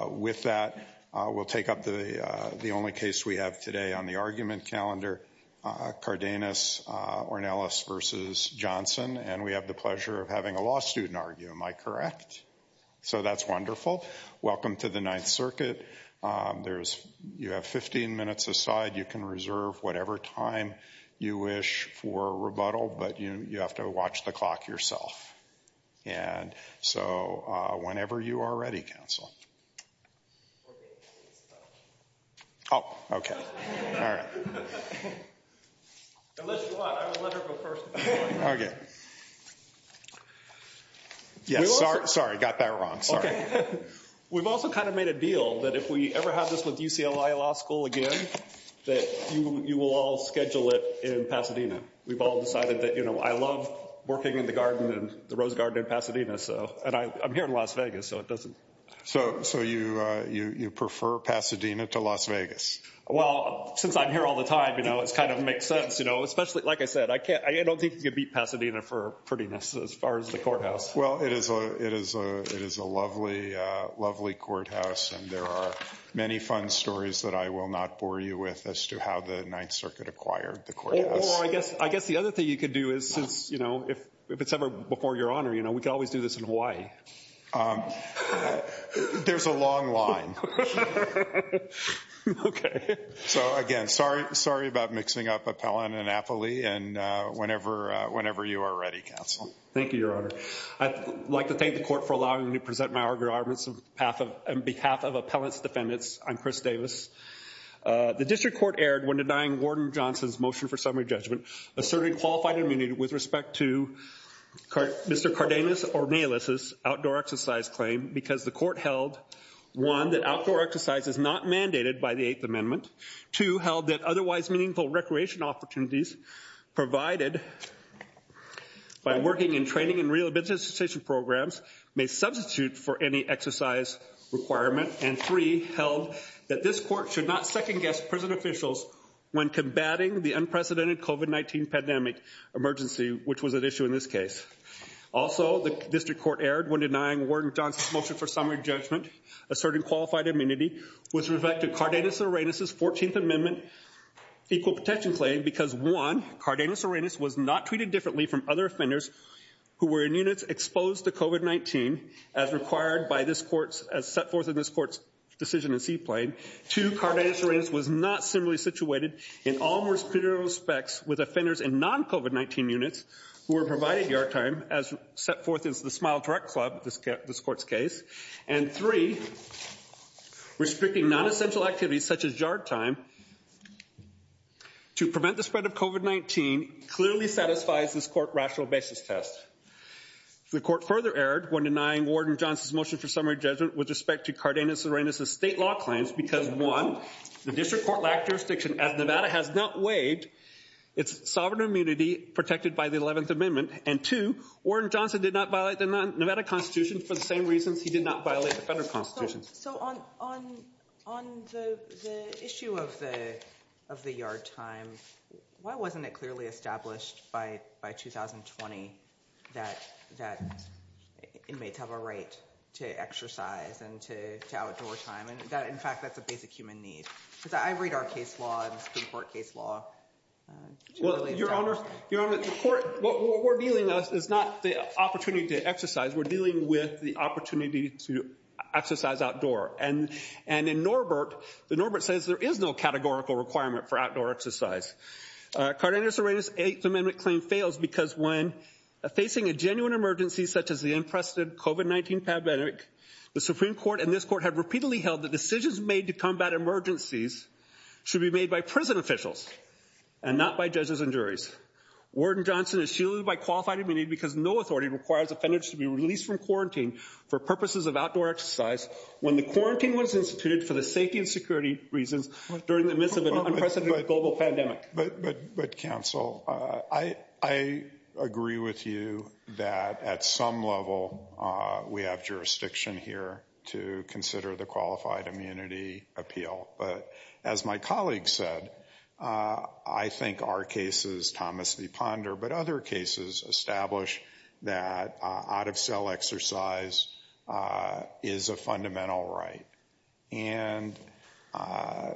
With that, we'll take up the only case we have today on the argument calendar, Cardenas-Ornelas v. Johnson, and we have the pleasure of having a law student argue, am I correct? So that's wonderful. Welcome to the Ninth Circuit. You have 15 minutes aside. You can reserve whatever time you wish for rebuttal, but you have to watch the clock yourself. And so whenever you are ready, counsel. Oh, okay. Okay. Yes, sorry, got that wrong. Sorry. We've also kind of made a deal that if we ever have this with UCLA Law School again, that you will all schedule it in Pasadena. We've all decided that, you know, I love working in the garden and the rose garden in Pasadena, so, and I'm here in Las Vegas, so it doesn't. So you prefer Pasadena to Las Vegas? Well, since I'm here all the time, you know, it kind of makes sense, you know, especially, like I said, I don't think you can beat Pasadena for prettiness as far as the courthouse. Well, it is a lovely courthouse, and there are many fun stories that I will not bore you with as to how the Ninth Circuit acquired the courthouse. I guess the other thing you could do is, you know, if it's ever before your honor, you know, we could always do this in Hawaii. There's a long line. Okay. So again, sorry about mixing up appellant and affilee, and whenever you are ready, counsel. Thank you, your honor. I'd like to thank the court for allowing me to present my arguments on behalf of appellant's defendants. I'm Chris Davis. The district court erred when denying Gordon Johnson's motion for summary judgment asserting qualified immunity with respect to Mr. Cardenas Ornelas' outdoor exercise claim because the court held, one, that outdoor exercise is not mandated by the Eighth Amendment, two, held that otherwise meaningful recreation opportunities provided by working in training and rehabilitation programs may substitute for any exercise requirement, and three, held that this court should not second-guess prison officials when combating the unprecedented COVID-19 pandemic emergency which was at issue in this case. Also, the district court erred when denying Gordon Johnson's motion for summary judgment asserting qualified immunity with respect to Cardenas Ornelas' 14th Amendment equal protection claim because, one, Cardenas Ornelas was not treated differently from other offenders who were in units exposed to COVID-19 as required by this court's, as set forth in this court's decision in C Plain, two, Cardenas Ornelas was not similarly situated in all more superior respects with offenders in non-COVID-19 units who were provided yard time as set forth in the Smile Direct Club, this court's case, and three, restricting non-essential activities such as yard time to prevent the spread of COVID-19 clearly satisfies this court rational basis test. The court further erred when denying Gordon Johnson's motion for summary judgment with respect to Cardenas Ornelas' state law claims because, one, the district court lacked jurisdiction as Nevada has not waived its sovereign immunity protected by the 11th Amendment and, two, Gordon Johnson did not violate the Nevada Constitution for the same reasons he did not violate the federal Constitution. So on the issue of the yard time, why wasn't it clearly established by 2020 that inmates have a right to exercise and to outdoor time and that, in fact, that's a basic human need? Because I read our case law and the Supreme Court case law. Well, Your Honor, Your Honor, the court, what we're dealing with is not the opportunity to exercise. We're dealing with the opportunity to exercise outdoor and, and in Norbert, the Norbert says there is no categorical requirement for outdoor exercise. Cardenas Ornelas' Eighth Amendment claim fails because when facing a genuine emergency such as the unprecedented COVID-19 pandemic, the Supreme Court and this court have repeatedly held that decisions made to combat emergencies should be made by prison officials and not by judges and juries. Worden Johnson is shielded by qualified immunity because no authority requires offenders to be released from quarantine for purposes of outdoor exercise when the quarantine was instituted for the safety and security reasons during the midst of an unprecedented global pandemic. But, but, but counsel, I, I agree with you that at some level we have jurisdiction here to consider the qualified immunity appeal. But as my colleague said, I think our cases, Thomas v. Ponder, but other cases establish that out of cell exercise is a fundamental right. And, uh,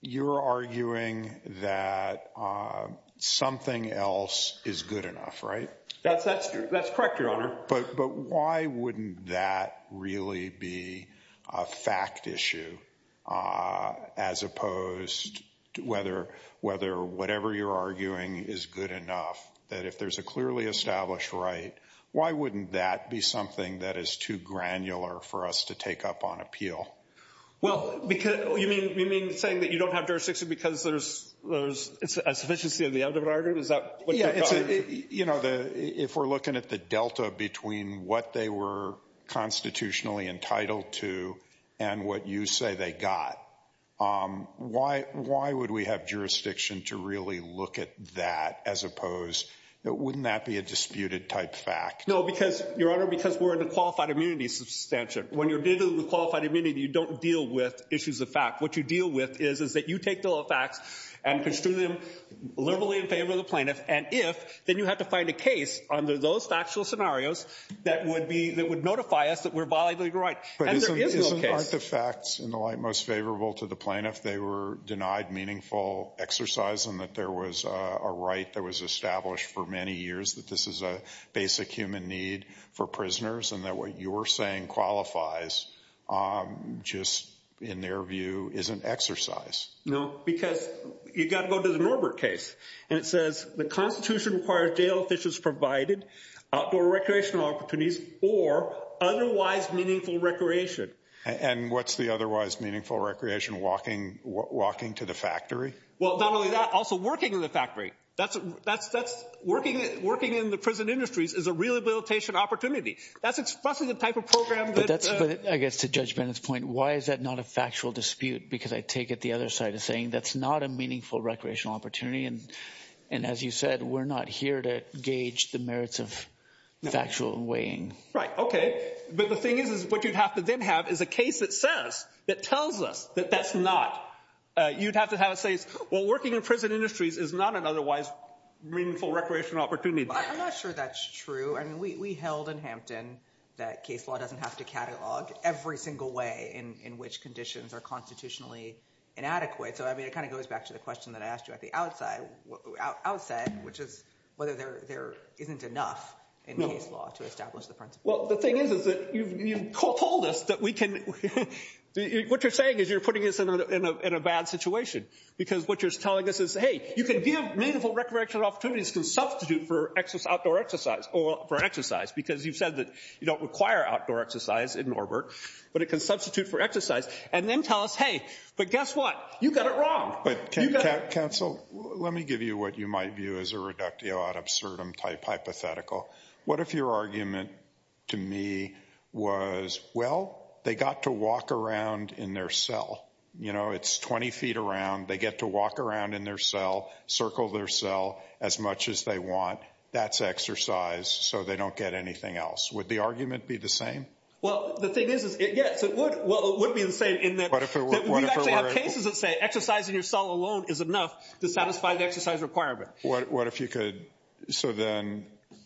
you're arguing that, uh, something else is good enough, right? That's, that's true. That's correct, Your Honor. But, but why wouldn't that really be a fact issue, uh, as opposed to whether, whether whatever you're arguing is good enough that if there's a clearly established right, why wouldn't that be something that is too granular for us to take up on appeal? Well, because you mean, you mean saying that you don't have jurisdiction because there's, there's a sufficiency of the other argument? Is that what you're saying? You know, the, if we're looking at the Delta between what they were constitutionally entitled to and what you say they got, um, why, why would we have jurisdiction to really look at that as opposed that wouldn't that be a disputed type fact? No, because Your Honor, because we're in a qualified immunity substantial. When you're dealing with qualified immunity, you don't deal with issues of fact. What you deal with is, is that you take the facts and construe them liberally in favor of the plaintiff. And if, then you have to find a case under those factual scenarios that would be, that would notify us that we're violating the right. But isn't, aren't the facts in the light most favorable to the plaintiff? They were denied meaningful exercise and that there was a right that was established for many years that this is a basic human need for prisoners. And that what you're saying qualifies, um, just in their view, isn't exercise. No, because you got to go to the Norbert case and it says the constitution requires jail officials provided outdoor recreational opportunities or otherwise meaningful recreation. And what's the otherwise meaningful recreation walking, walking to the factory? Well, not only that, also working in the factory. That's, that's, that's working, working in the prison industries is a rehabilitation opportunity. That's expressing the type of program. But that's, but I guess to judge Bennett's point, why is that not a factual dispute? Because I take it the other side of saying that's not a meaningful recreational opportunity. And, and as you said, we're not here to gauge the merits of factual weighing. Right. Okay. But the thing is, is what you'd have to then have is a case that says, that tells us that that's not, uh, you'd have to have a say. Well, working in prison industries is not an otherwise meaningful recreational opportunity. I'm not sure that's true. I mean, we, we held in Hampton that case law doesn't have to catalog every single way in, in which conditions are constitutionally inadequate. So, I mean, it kind of goes back to the question that I asked you at the outside, outside, which is whether there, there isn't enough in case law to establish the principle. Well, the thing is, is that you've told us that we can, what you're saying is you're because what you're telling us is, hey, you can give meaningful recreational opportunities can substitute for exercise, outdoor exercise or for exercise, because you've said that you don't require outdoor exercise in Norbert, but it can substitute for exercise and then tell us, hey, but guess what? You got it wrong. But counsel, let me give you what you might view as a reductio ad absurdum type hypothetical. What if your argument to me was, well, they got to walk around in their cell, you know, it's 20 feet around. They get to walk around in their cell, circle their cell as much as they want. That's exercise. So they don't get anything else. Would the argument be the same? Well, the thing is, is it, yes, it would. Well, it would be the same in that you actually have cases that say exercising your cell alone is enough to satisfy the exercise requirement. What, what if you could, so then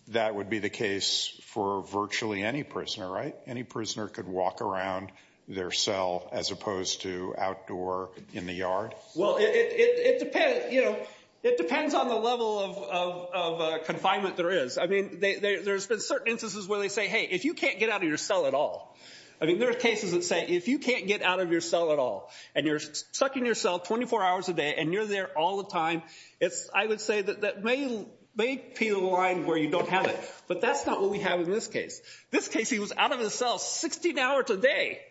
that would be the case for virtually any prisoner, right? Any prisoner could walk around their cell as opposed to outdoor in the yard? Well, it depends, you know, it depends on the level of confinement there is. I mean, there's been certain instances where they say, hey, if you can't get out of your cell at all. I mean, there are cases that say, if you can't get out of your cell at all, and you're stuck in your cell 24 hours a day, and you're there all the time, it's, I would say, that may peel the line where you don't have it. But that's not what we have in this case. This case, he was out of his cell 16 hours a day.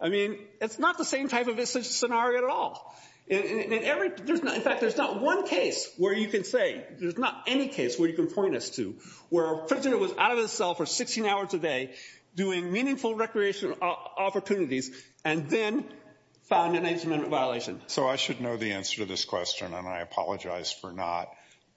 I mean, it's not the same type of scenario at all. And every, there's not, in fact, there's not one case where you can say, there's not any case where you can point us to, where a prisoner was out of his cell for 16 hours a day, doing meaningful recreational opportunities, and then found an age amendment violation. So I should know the answer to this question, and I apologize for not.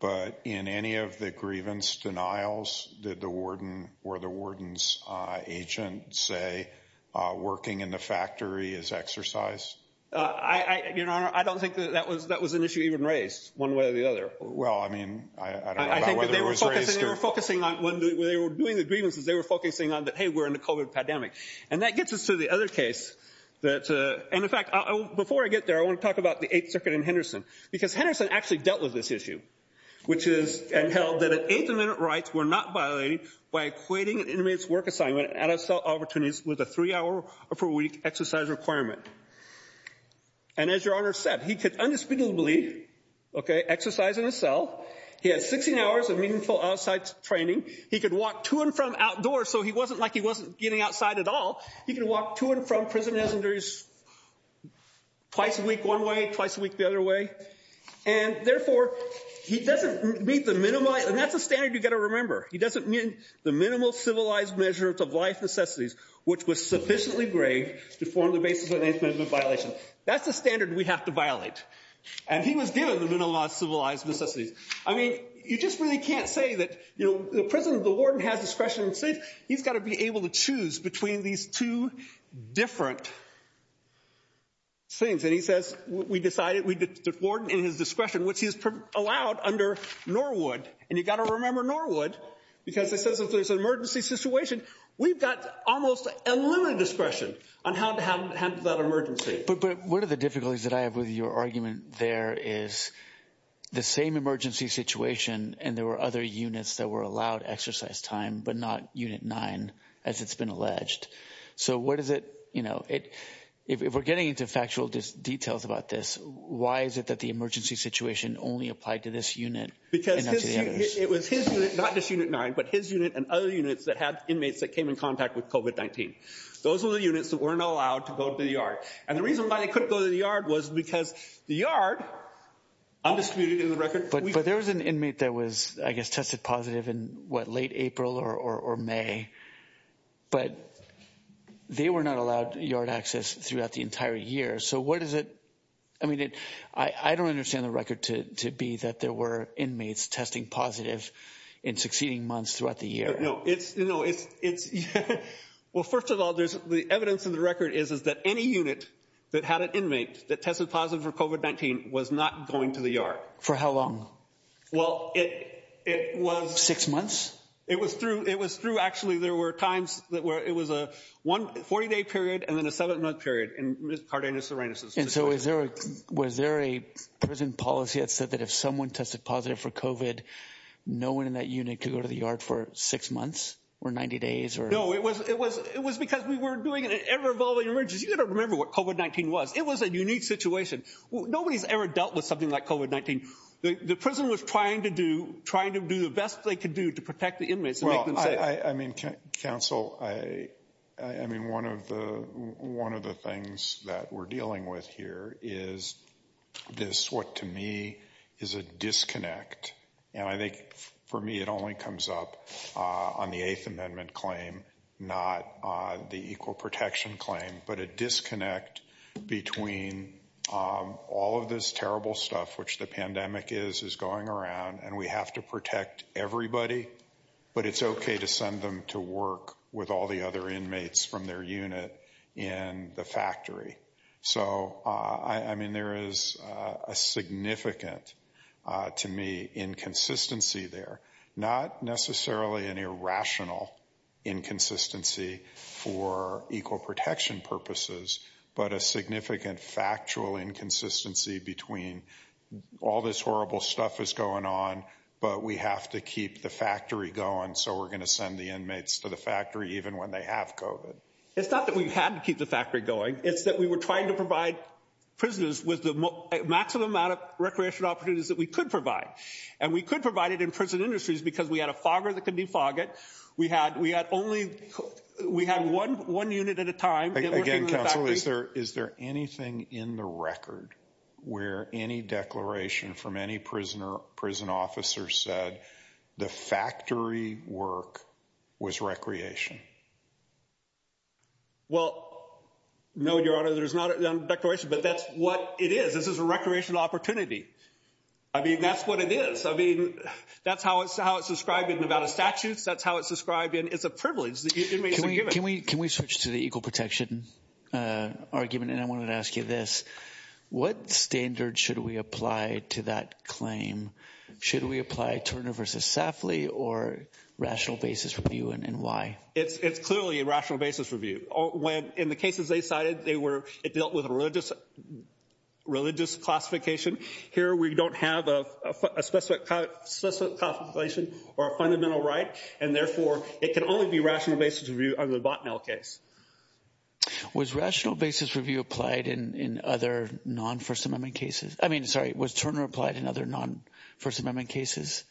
But in any of the grievance denials, did the warden or the warden's agent say, working in the factory is exercise? Your Honor, I don't think that was an issue even raised, one way or the other. Well, I mean, I don't know about whether it was raised or... They were focusing on, when they were doing the grievances, they were focusing on that, hey, we're in the COVID pandemic. And that gets us to the other case that, and in fact, before I get there, I want to talk about the Eighth Circuit and Henderson. Because Henderson actually dealt with this issue, which is, and held that an eighth amendment rights were not violated by equating an inmate's work assignment at a cell opportunities with a three-hour-per-week exercise requirement. And as Your Honor said, he could undisputably, okay, exercise in a cell. He had 16 hours of meaningful outside training. He could walk to and from outdoors, so he wasn't like he wasn't getting outside at all. He could walk to and from prisoners twice a week one way, twice a week the other way. And therefore, he doesn't meet the minimized... And that's a standard you've got to remember. He doesn't meet the minimal civilized measure of life necessities, which was sufficiently grave to form the basis of an eighth amendment violation. That's the standard we have to violate. And he was given the minimal civilized necessities. I mean, you just really can't say that, you know, the prison, the warden has discretion and say, he's got to be able to choose between these two different things. And he says, we decided we did the warden in his discretion, which he's allowed under Norwood. And you've got to remember Norwood, because it says if there's an emergency situation, we've got almost unlimited discretion on how to handle that emergency. But one of the difficulties that I have with your argument there is the same emergency situation, and there were other units that were allowed exercise time, but not unit nine, as it's been alleged. So what does it, you know, if we're getting into factual details about this, why is it that the emergency situation only applied to this unit? Because it was his unit, not just unit nine, but his unit and other units that had inmates that came in contact with COVID-19. Those are the units that weren't allowed to go to the yard. And the reason why they couldn't go to the yard was because the yard, undisputed in the record. But there was an inmate that was, I guess, tested positive in what, late April or May. But they were not allowed yard access throughout the entire year. So what does it, I mean, I don't understand the record to be that there were inmates testing positive in succeeding months throughout the year. No, it's, you know, it's, well, first of all, there's the evidence in the record is, is that any unit that had an inmate that tested positive for COVID-19 was not going to the yard. For how long? Well, it was. Six months? It was through, it was through, actually, there were times that were, it was a one, 40-day period and then a seven-month period. And Ms. Cardenas-Arenas. And so is there, was there a prison policy that said that if someone tested positive for COVID, no one in that unit could go to the yard for six months or 90 days or? No, it was, it was, it was because we were doing an ever-evolving emergency. You don't remember what COVID-19 was. It was a unique situation. Nobody's ever dealt with something like COVID-19. The prison was trying to do, trying to do the best they could do to protect the inmates and make them safe. I mean, counsel, I, I mean, one of the, one of the things that we're dealing with here is this, what to me is a disconnect. And I think for me, it only comes up on the eighth amendment claim, not the equal protection claim, but a disconnect between all of this terrible stuff, which the pandemic is, is going around and we have to protect everybody, but it's okay to send them to work with all the other inmates from their unit in the factory. So, I mean, there is a significant, to me, inconsistency there. Not necessarily an irrational inconsistency for equal protection purposes, but a significant factual inconsistency between all this horrible stuff is going on, but we have to keep the factory going. So we're going to send the inmates to the factory, even when they have COVID. It's not that we've had to keep the factory going. It's that we were trying to provide prisoners with the maximum amount of recreation opportunities that we could provide. And we could provide it in prison industries because we had a fogger that could defog it. We had, we had only, we had one, one unit at a time. Again, counsel, is there anything in the record where any declaration from any prisoner, prison officer said the factory work was recreation? Well, no, your honor, there's not a declaration, but that's what it is. This is a recreational opportunity. I mean, that's what it is. I mean, that's how it's described in Nevada statutes. That's how it's described in, it's a privilege that inmates are given. Can we switch to the equal protection argument? And I wanted to ask you this. What standard should we apply to that claim? Should we apply Turner versus Safley or rational basis review and why? It's clearly a rational basis review. When, in the cases they cited, they were, it dealt with a religious classification. Here, we don't have a specific classification or a fundamental right. And therefore, it can only be rational basis review under the Botnell case. Was rational basis review applied in other non-First Amendment cases? I mean, sorry, was Turner applied in other non-First Amendment cases?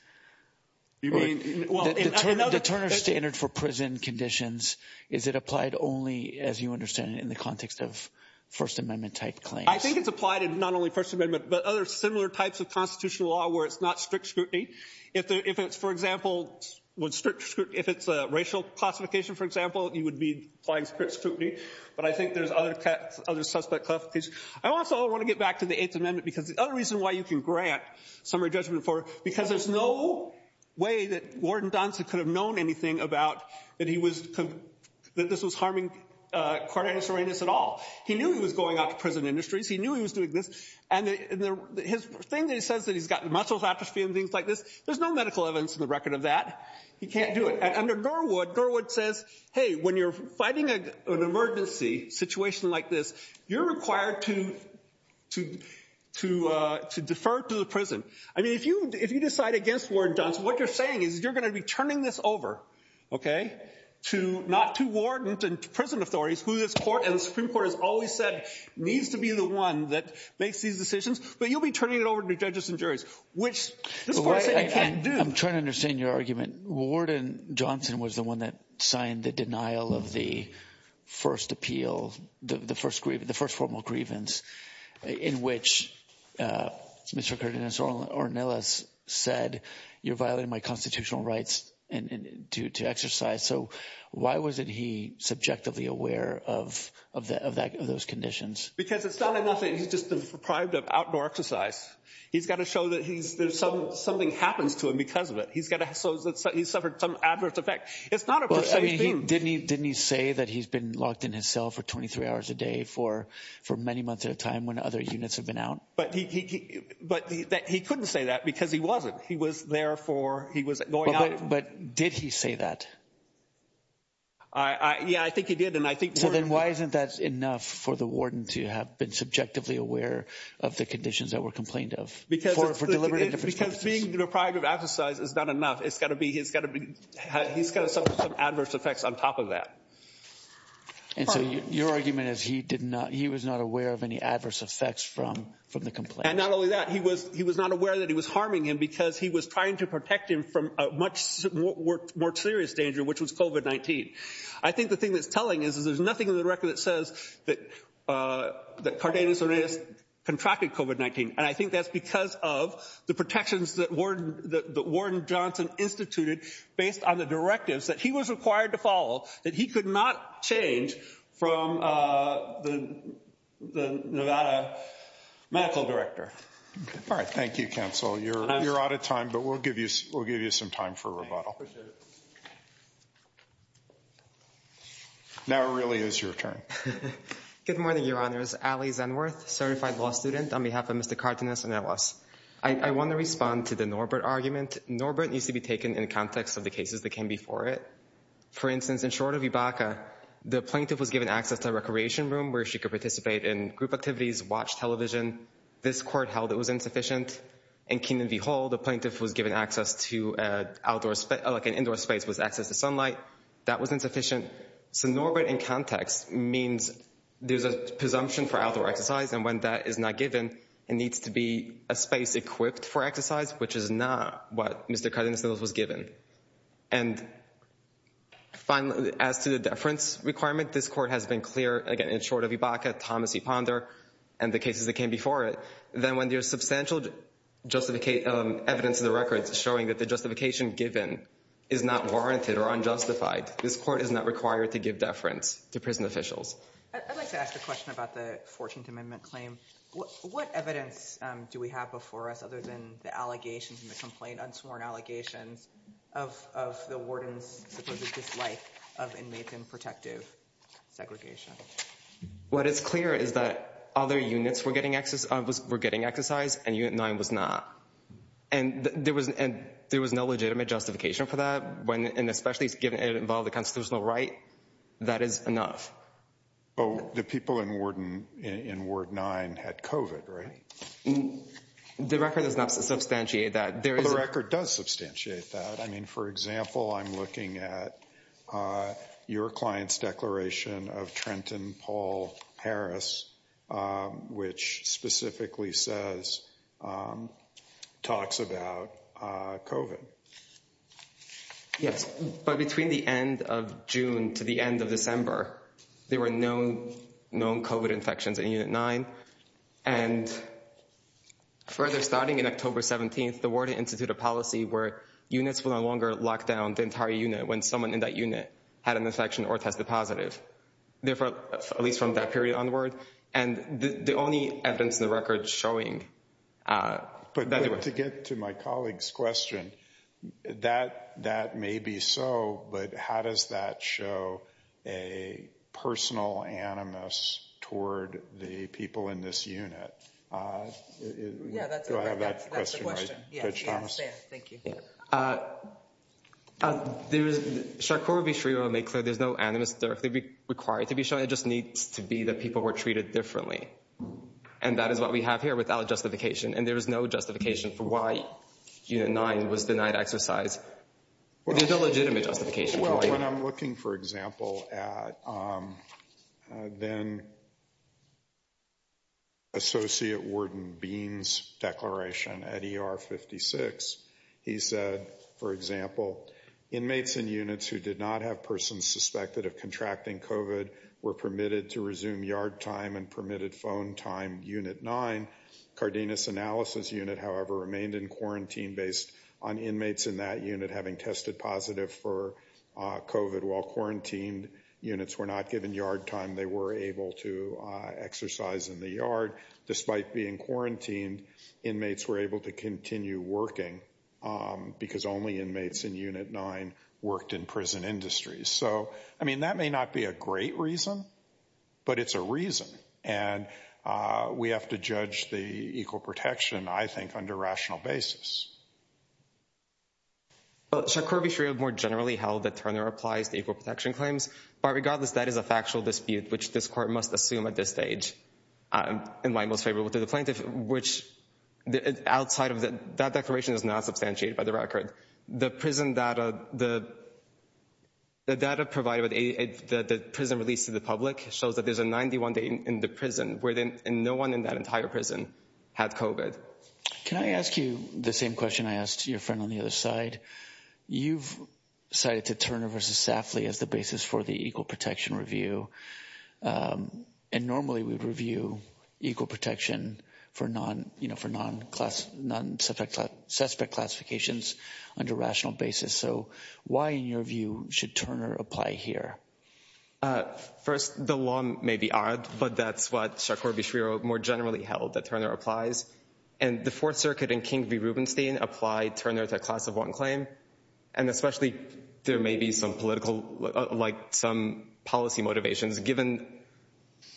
You mean, well, in other, The Turner standard for prison conditions, is it applied only, as you understand it, in the context of First Amendment type claims? I think it's applied in not only First Amendment, but other similar types of constitutional law where it's not strict scrutiny. If it's, for example, if it's a racial classification, for example, you would be applying strict scrutiny. But I think there's other suspect classifications. I also want to get back to the Eighth Amendment, because the other reason why you can grant summary judgment for it, because there's no way that Warden Donson could have known anything about that he was, that this was harming Cardenas-Arenas at all. He knew he was going out to prison industries. He knew he was doing this. And his thing that he says that he's gotten muscle atrophy and things like this, there's no medical evidence in the record of that. He can't do it. And under Garwood, Garwood says, hey, when you're fighting an emergency situation like this, you're required to defer to the prison. I mean, if you decide against Warden Donson, what you're saying is you're going to be turning this over, okay, to not to Warden, to prison authorities, who this court and the Supreme Court has always said needs to be the one that makes these decisions. But you'll be turning it over to judges and juries, which this court is saying it can't do. I'm trying to understand your argument. Warden Donson was the one that signed the denial of the first appeal, the first formal grievance in which Mr. Cardenas-Arenas said you're violating my constitutional rights to exercise. So why wasn't he subjectively aware of those conditions? Because it's not enough that he's just deprived of outdoor exercise. He's got to show that something happens to him because of it. He's got to show that he's suffered some adverse effect. It's not a perceived thing. Didn't he say that he's been locked in his cell for 23 hours a day for many months at a time when other units have been out? But he couldn't say that because he wasn't. He was there for, he was going out. But did he say that? Yeah, I think he did. So then why isn't that enough for the warden to have been subjectively aware of the conditions that were complained of? Because being deprived of exercise is not enough. It's got to be, he's got to suffer some adverse effects on top of that. And so your argument is he did not, he was not aware of any adverse effects from the complaint. And not only that, he was not aware that it was harming him because he was trying to protect him from a much more serious danger, which was COVID-19. I think the thing that's telling is, is there's nothing in the record that says that Cardenas-Hernandez contracted COVID-19. And I think that's because of the protections that warden Johnson instituted based on the directives that he was required to follow that he could not change from the Nevada medical director. All right, thank you, counsel. You're out of time, but we'll give you some time for rebuttal. Now, it really is your turn. Good morning, your honors. Ali Zenworth, certified law student on behalf of Mr. Cardenas-Hernandez. I want to respond to the Norbert argument. Norbert needs to be taken in the context of the cases that came before it. For instance, in Shorter v. Baca, the plaintiff was given access to a recreation room where she could participate in group activities, watch television. This court held it was insufficient. In Keenan v. Hall, the plaintiff was given access to an indoor space with access to sunlight. That was insufficient. So Norbert in context means there's a presumption for outdoor exercise. And when that is not given, it needs to be a space equipped for exercise, which is not what Mr. Cardenas-Hernandez was given. And finally, as to the deference requirement, this court has been clear, again, in Shorter v. Baca, Thomas v. Ponder, and the cases that came before it. Then when there's substantial evidence in the records showing that the justification given is not warranted or unjustified, this court is not required to give deference to prison officials. I'd like to ask a question about the 14th Amendment claim. What evidence do we have before us, other than the allegations and the complaint, unsworn allegations, of the warden's supposed dislike of inmates in protective segregation? What is clear is that other units were getting exercise and Unit 9 was not. And there was no legitimate justification for that, and especially given it involved a constitutional right, that is enough. But the people in Ward 9 had COVID, right? The record does not substantiate that. The record does substantiate that. I mean, for example, I'm looking at your client's declaration of Trenton Paul Harris, which specifically says, talks about COVID. Yes, but between the end of June to the end of December, there were no known COVID infections in Unit 9. And further, starting in October 17th, the Warden Institute of Policy where units will no longer lock down the entire unit when someone in that unit had an infection or tested positive. Therefore, at least from that period onward, and the only evidence in the record showing... But to get to my colleague's question, that may be so, but how does that show a personal animus toward the people in this unit? Yeah, that's the question. Yeah, thank you. Yeah, there is... Charcot would be free to make clear there's no animus directly required to be shown. It just needs to be that people were treated differently. And that is what we have here without justification. And there is no justification for why Unit 9 was denied exercise. There's no legitimate justification. Well, when I'm looking, for example, at then Associate Warden Bean's declaration at ER 56, he said, for example, inmates in units who did not have persons suspected of contracting COVID were permitted to resume yard time and permitted phone time Unit 9. Cardenas Analysis Unit, however, remained in quarantine based on inmates in that unit having tested positive for COVID. While quarantined units were not given yard time, they were able to exercise in the yard. Despite being quarantined, inmates were able to continue working because only inmates in Unit 9 worked in prison industries. So, I mean, that may not be a great reason, but it's a reason. And we have to judge the equal protection, I think, under rational basis. Charcot would be free to more generally held that Turner applies to equal protection claims. But regardless, that is a factual dispute, which this court must assume at this stage. And my most favorable to the plaintiff, which outside of that declaration is not substantiated by the record. The prison data, the data provided with the prison release to the public shows that there's a 91 day in the prison where no one in that entire prison had COVID. Can I ask you the same question I asked your friend on the other side? You've cited to Turner versus Safley as the basis for the equal protection review. And normally we'd review equal protection for non, you know, for non class, non suspect, suspect classifications under rational basis. So why, in your view, should Turner apply here? First, the law may be odd, but that's what Charcot v. Schreier more generally held that Turner applies. And the Fourth Circuit and King v. Rubenstein applied Turner to a class of one claim. And especially there may be some political, like some policy motivations given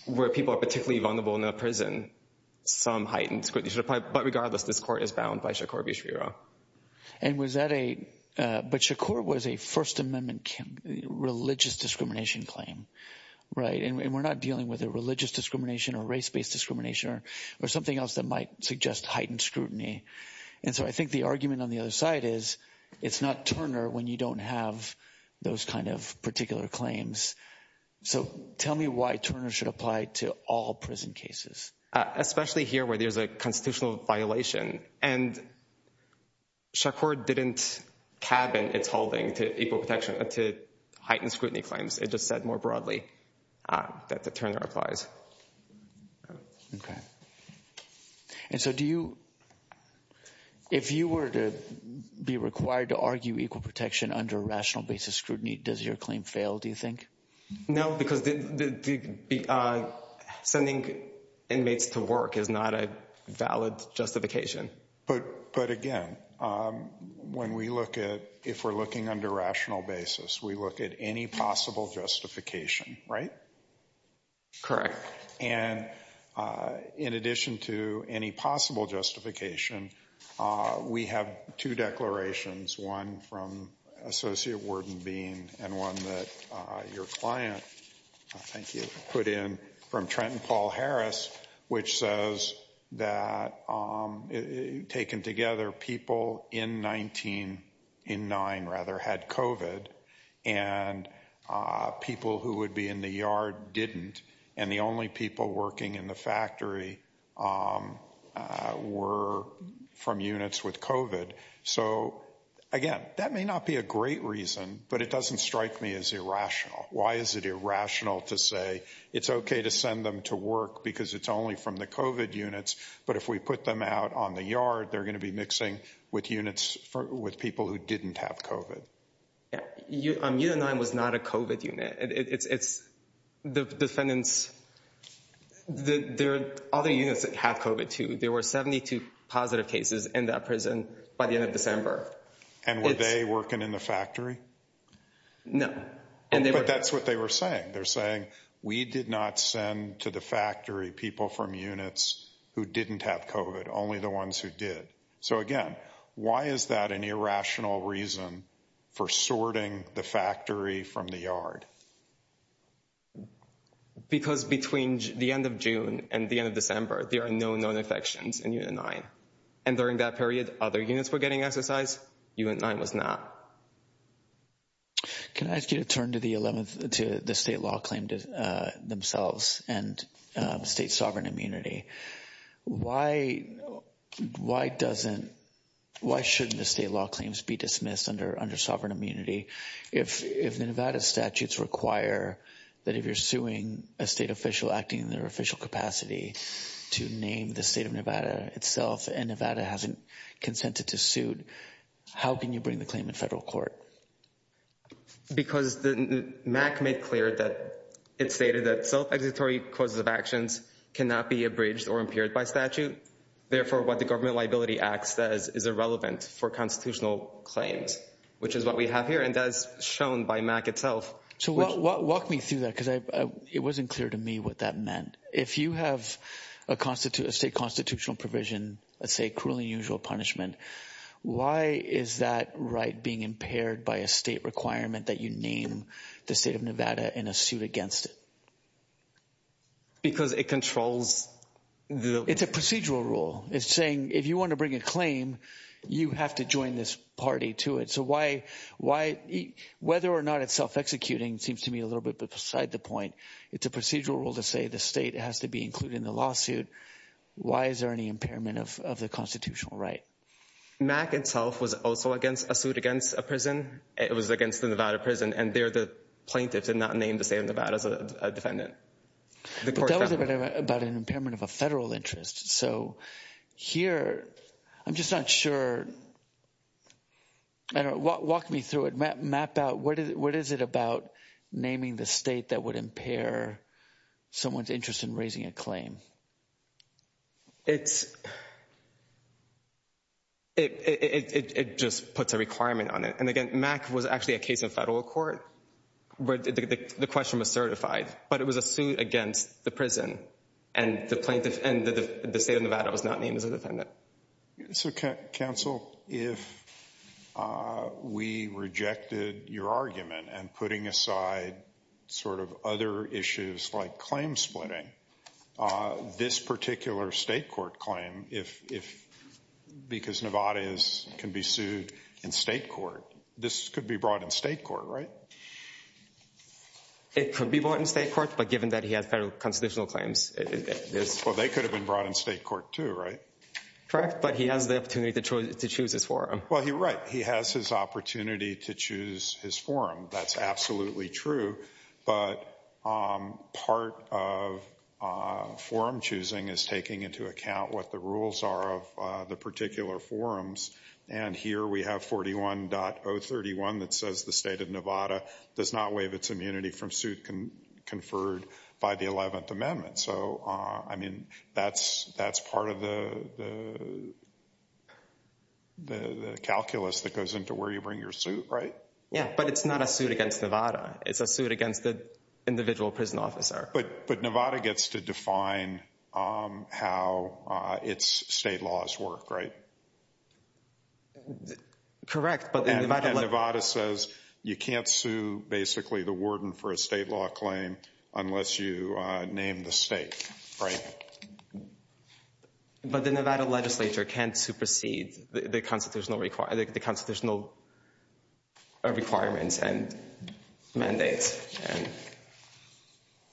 where people are particularly vulnerable in a prison, some heightened scrutiny should apply. But regardless, this court is bound by Charcot v. And was that a, but Charcot was a First Amendment religious discrimination claim, right? And we're not dealing with a religious discrimination or race based discrimination or something else that might suggest heightened scrutiny. And so I think the argument on the other side is, it's not Turner when you don't have those kind of particular claims. So tell me why Turner should apply to all prison cases. Especially here where there's a constitutional violation. And Charcot didn't cabin its holding to equal protection to heightened scrutiny claims. It just said more broadly that the Turner applies. Okay. And so do you, if you were to be required to argue equal protection under rational basis scrutiny, does your claim fail, do you think? No, because sending inmates to work is not a valid justification. But again, when we look at, if we're looking under rational basis, we look at any possible justification, right? Correct. And in addition to any possible justification, we have two declarations, one from Associate Warden Bean and one that your client, thank you, put in from Trenton Paul Harris, which says that taken together people in 19, in nine rather had COVID and people who would be in the yard didn't. And the only people working in the factory were from units with COVID. So again, that may not be a great reason, but it doesn't strike me as irrational. Why is it irrational to say it's okay to send them to work because it's only from the COVID units. But if we put them out on the yard, they're going to be mixing with units with people who didn't have COVID. You and I was not a COVID unit. It's the defendants, there are other units that have COVID too. There were 72 positive cases in that prison by the end of December. And were they working in the factory? No. And that's what they were saying. They're saying we did not send to the factory people from units who didn't have COVID, only the ones who did. So again, why is that an irrational reason for sorting the factory from the yard? Because between the end of June and the end of December, there are no known infections in unit nine. And during that period, other units were getting exercise, unit nine was not. Can I ask you to turn to the 11th, to the state law claim themselves and state sovereign immunity? Why shouldn't the state law claims be dismissed under sovereign immunity? If the Nevada statutes require that if you're suing a state official acting in their official capacity to name the state of Nevada itself and Nevada hasn't consented to suit, how can you bring the claim in federal court? Because the MAC made clear that it stated that self-executory causes of actions cannot be abridged or impaired by statute. Therefore, what the Government Liability Act says is irrelevant for constitutional claims, which is what we have here. And that's shown by MAC itself. So walk me through that, because it wasn't clear to me what that meant. If you have a state constitutional provision, let's say cruelly unusual punishment, why is that right being impaired by a state requirement that you name the state of Nevada in a suit against it? Because it controls the... It's a procedural rule. It's saying if you want to bring a claim, you have to join this party to it. So why, whether or not it's self-executing seems to me a little bit beside the point. It's a procedural rule to say the state has to be included in the lawsuit. Why is there any impairment of the constitutional right? MAC itself was also a suit against a prison. It was against the Nevada prison. And there, the plaintiffs did not name the state of Nevada as a defendant. But that was about an impairment of a federal interest. So here, I'm just not sure. I don't know. Walk me through it. Map out. What is it about naming the state that would impair someone's interest in raising a claim? It's... It just puts a requirement on it. And again, MAC was actually a case in federal court. But the question was certified. But it was a suit against the prison. And the plaintiff and the state of Nevada was not named as a defendant. So, counsel, if we rejected your argument and putting aside sort of other issues like this particular state court claim, because Nevada can be sued in state court, this could be brought in state court, right? It could be brought in state court. But given that he has federal constitutional claims, it is... Well, they could have been brought in state court too, right? Correct. But he has the opportunity to choose his forum. Well, you're right. He has his opportunity to choose his forum. That's absolutely true. But part of forum choosing is taking into account what the rules are of the particular forums. And here we have 41.031 that says the state of Nevada does not waive its immunity from suit conferred by the 11th Amendment. So, I mean, that's part of the calculus that goes into where you bring your suit, right? Yeah. But it's not a suit against Nevada. It's a suit against the individual prison officer. But Nevada gets to define how its state laws work, right? Correct. And Nevada says you can't sue basically the warden for a state law claim unless you name the state, right? But the Nevada legislature can't supersede the constitutional requirements. And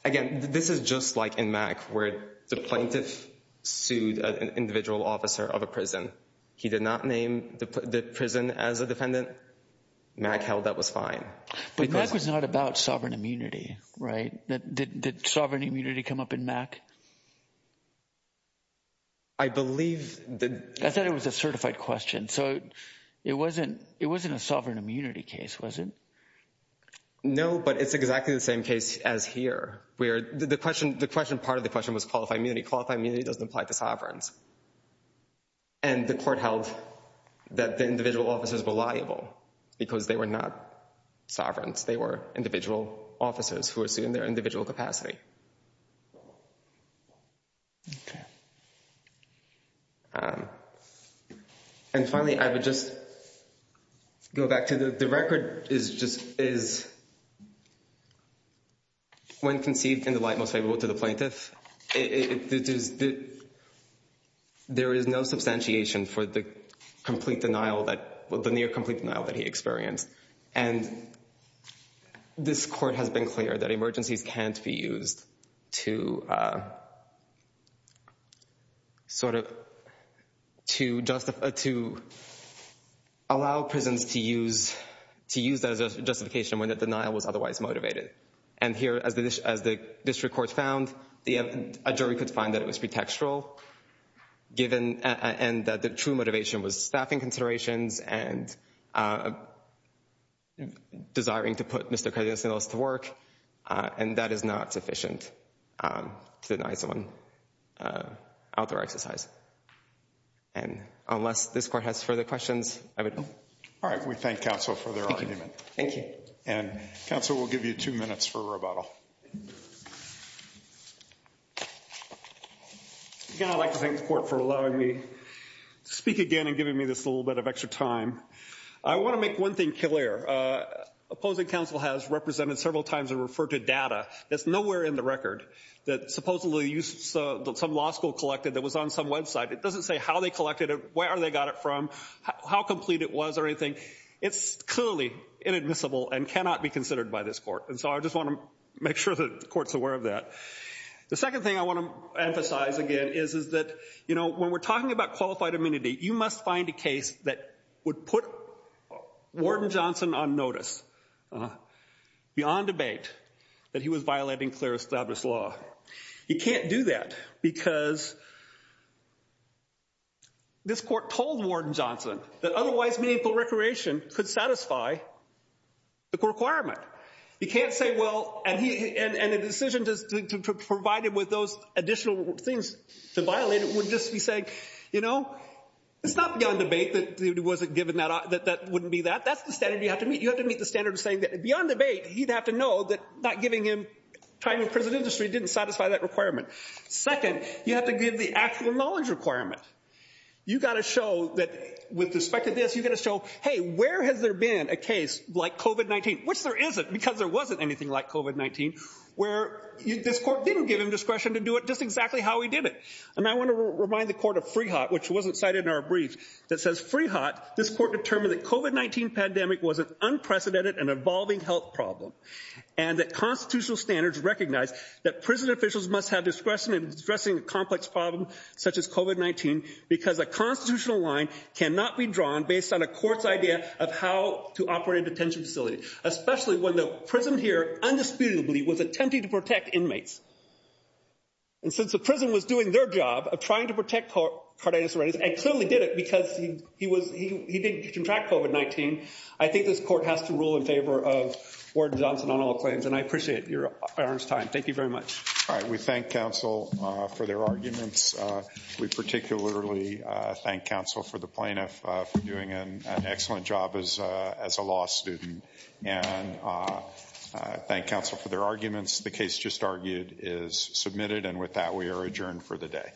again, this is just like in MAC, where the plaintiff sued an individual officer of a prison. He did not name the prison as a defendant. MAC held that was fine. But MAC was not about sovereign immunity, right? Did sovereign immunity come up in MAC? I believe... I thought it was a certified question. So it wasn't a sovereign immunity case, was it? No, but it's exactly the same case as here, where the question... The question... Part of the question was qualified immunity. Qualified immunity doesn't apply to sovereigns. And the court held that the individual officers were liable because they were not sovereigns. They were individual officers who were sued in their individual capacity. And finally, I would just go back to the record is when conceived in the light most favorable to the plaintiff, there is no substantiation for the near complete denial that he experienced. And this court has been clear that emergencies can't be used. To allow prisons to use that as a justification when the denial was otherwise motivated. And here, as the district court found, a jury could find that it was pretextual, and that the true motivation was staffing considerations and desiring to put Mr. Cardenas and others to work. And that is not sufficient to deny someone outdoor exercise. And unless this court has further questions, I would... All right. We thank counsel for their argument. Thank you. And counsel will give you two minutes for rebuttal. Again, I'd like to thank the court for allowing me to speak again and giving me this little bit of extra time. I want to make one thing clear. Opposing counsel has represented several times and referred to data that's nowhere in the record that supposedly some law school collected that was on some website. It doesn't say how they collected it, where they got it from, how complete it was or anything. It's clearly inadmissible and cannot be considered by this court. And so I just want to make sure that the court's aware of that. The second thing I want to emphasize again is that when we're talking about qualified you must find a case that would put Warden Johnson on notice beyond debate that he was violating clear established law. You can't do that because this court told Warden Johnson that otherwise meaningful recreation could satisfy the requirement. You can't say, well, and the decision to provide it with those additional things to violate it just to be saying, you know, it's not beyond debate that it wasn't given that, that wouldn't be that. That's the standard you have to meet. You have to meet the standard of saying that beyond debate, he'd have to know that not giving him time in prison industry didn't satisfy that requirement. Second, you have to give the actual knowledge requirement. You've got to show that with respect to this, you've got to show, hey, where has there been a case like COVID-19, which there isn't because there wasn't anything like COVID-19, where this court didn't give him discretion to do it just exactly how he did it. And I want to remind the court of free hot, which wasn't cited in our brief that says free hot. This court determined that COVID-19 pandemic was an unprecedented and evolving health problem and that constitutional standards recognize that prison officials must have discretion in addressing a complex problem such as COVID-19 because a constitutional line cannot be drawn based on a court's idea of how to operate a detention facility, especially when the prison here undisputedly was attempting to protect inmates. And since the prison was doing their job of trying to protect Cardenas-Reyes and clearly did it because he didn't contract COVID-19, I think this court has to rule in favor of Warden Johnson on all claims. And I appreciate your time. Thank you very much. All right. We thank counsel for their arguments. We particularly thank counsel for the plaintiff for doing an excellent job as a law student and thank counsel for their arguments. The case just argued is submitted. And with that, we are adjourned for the day.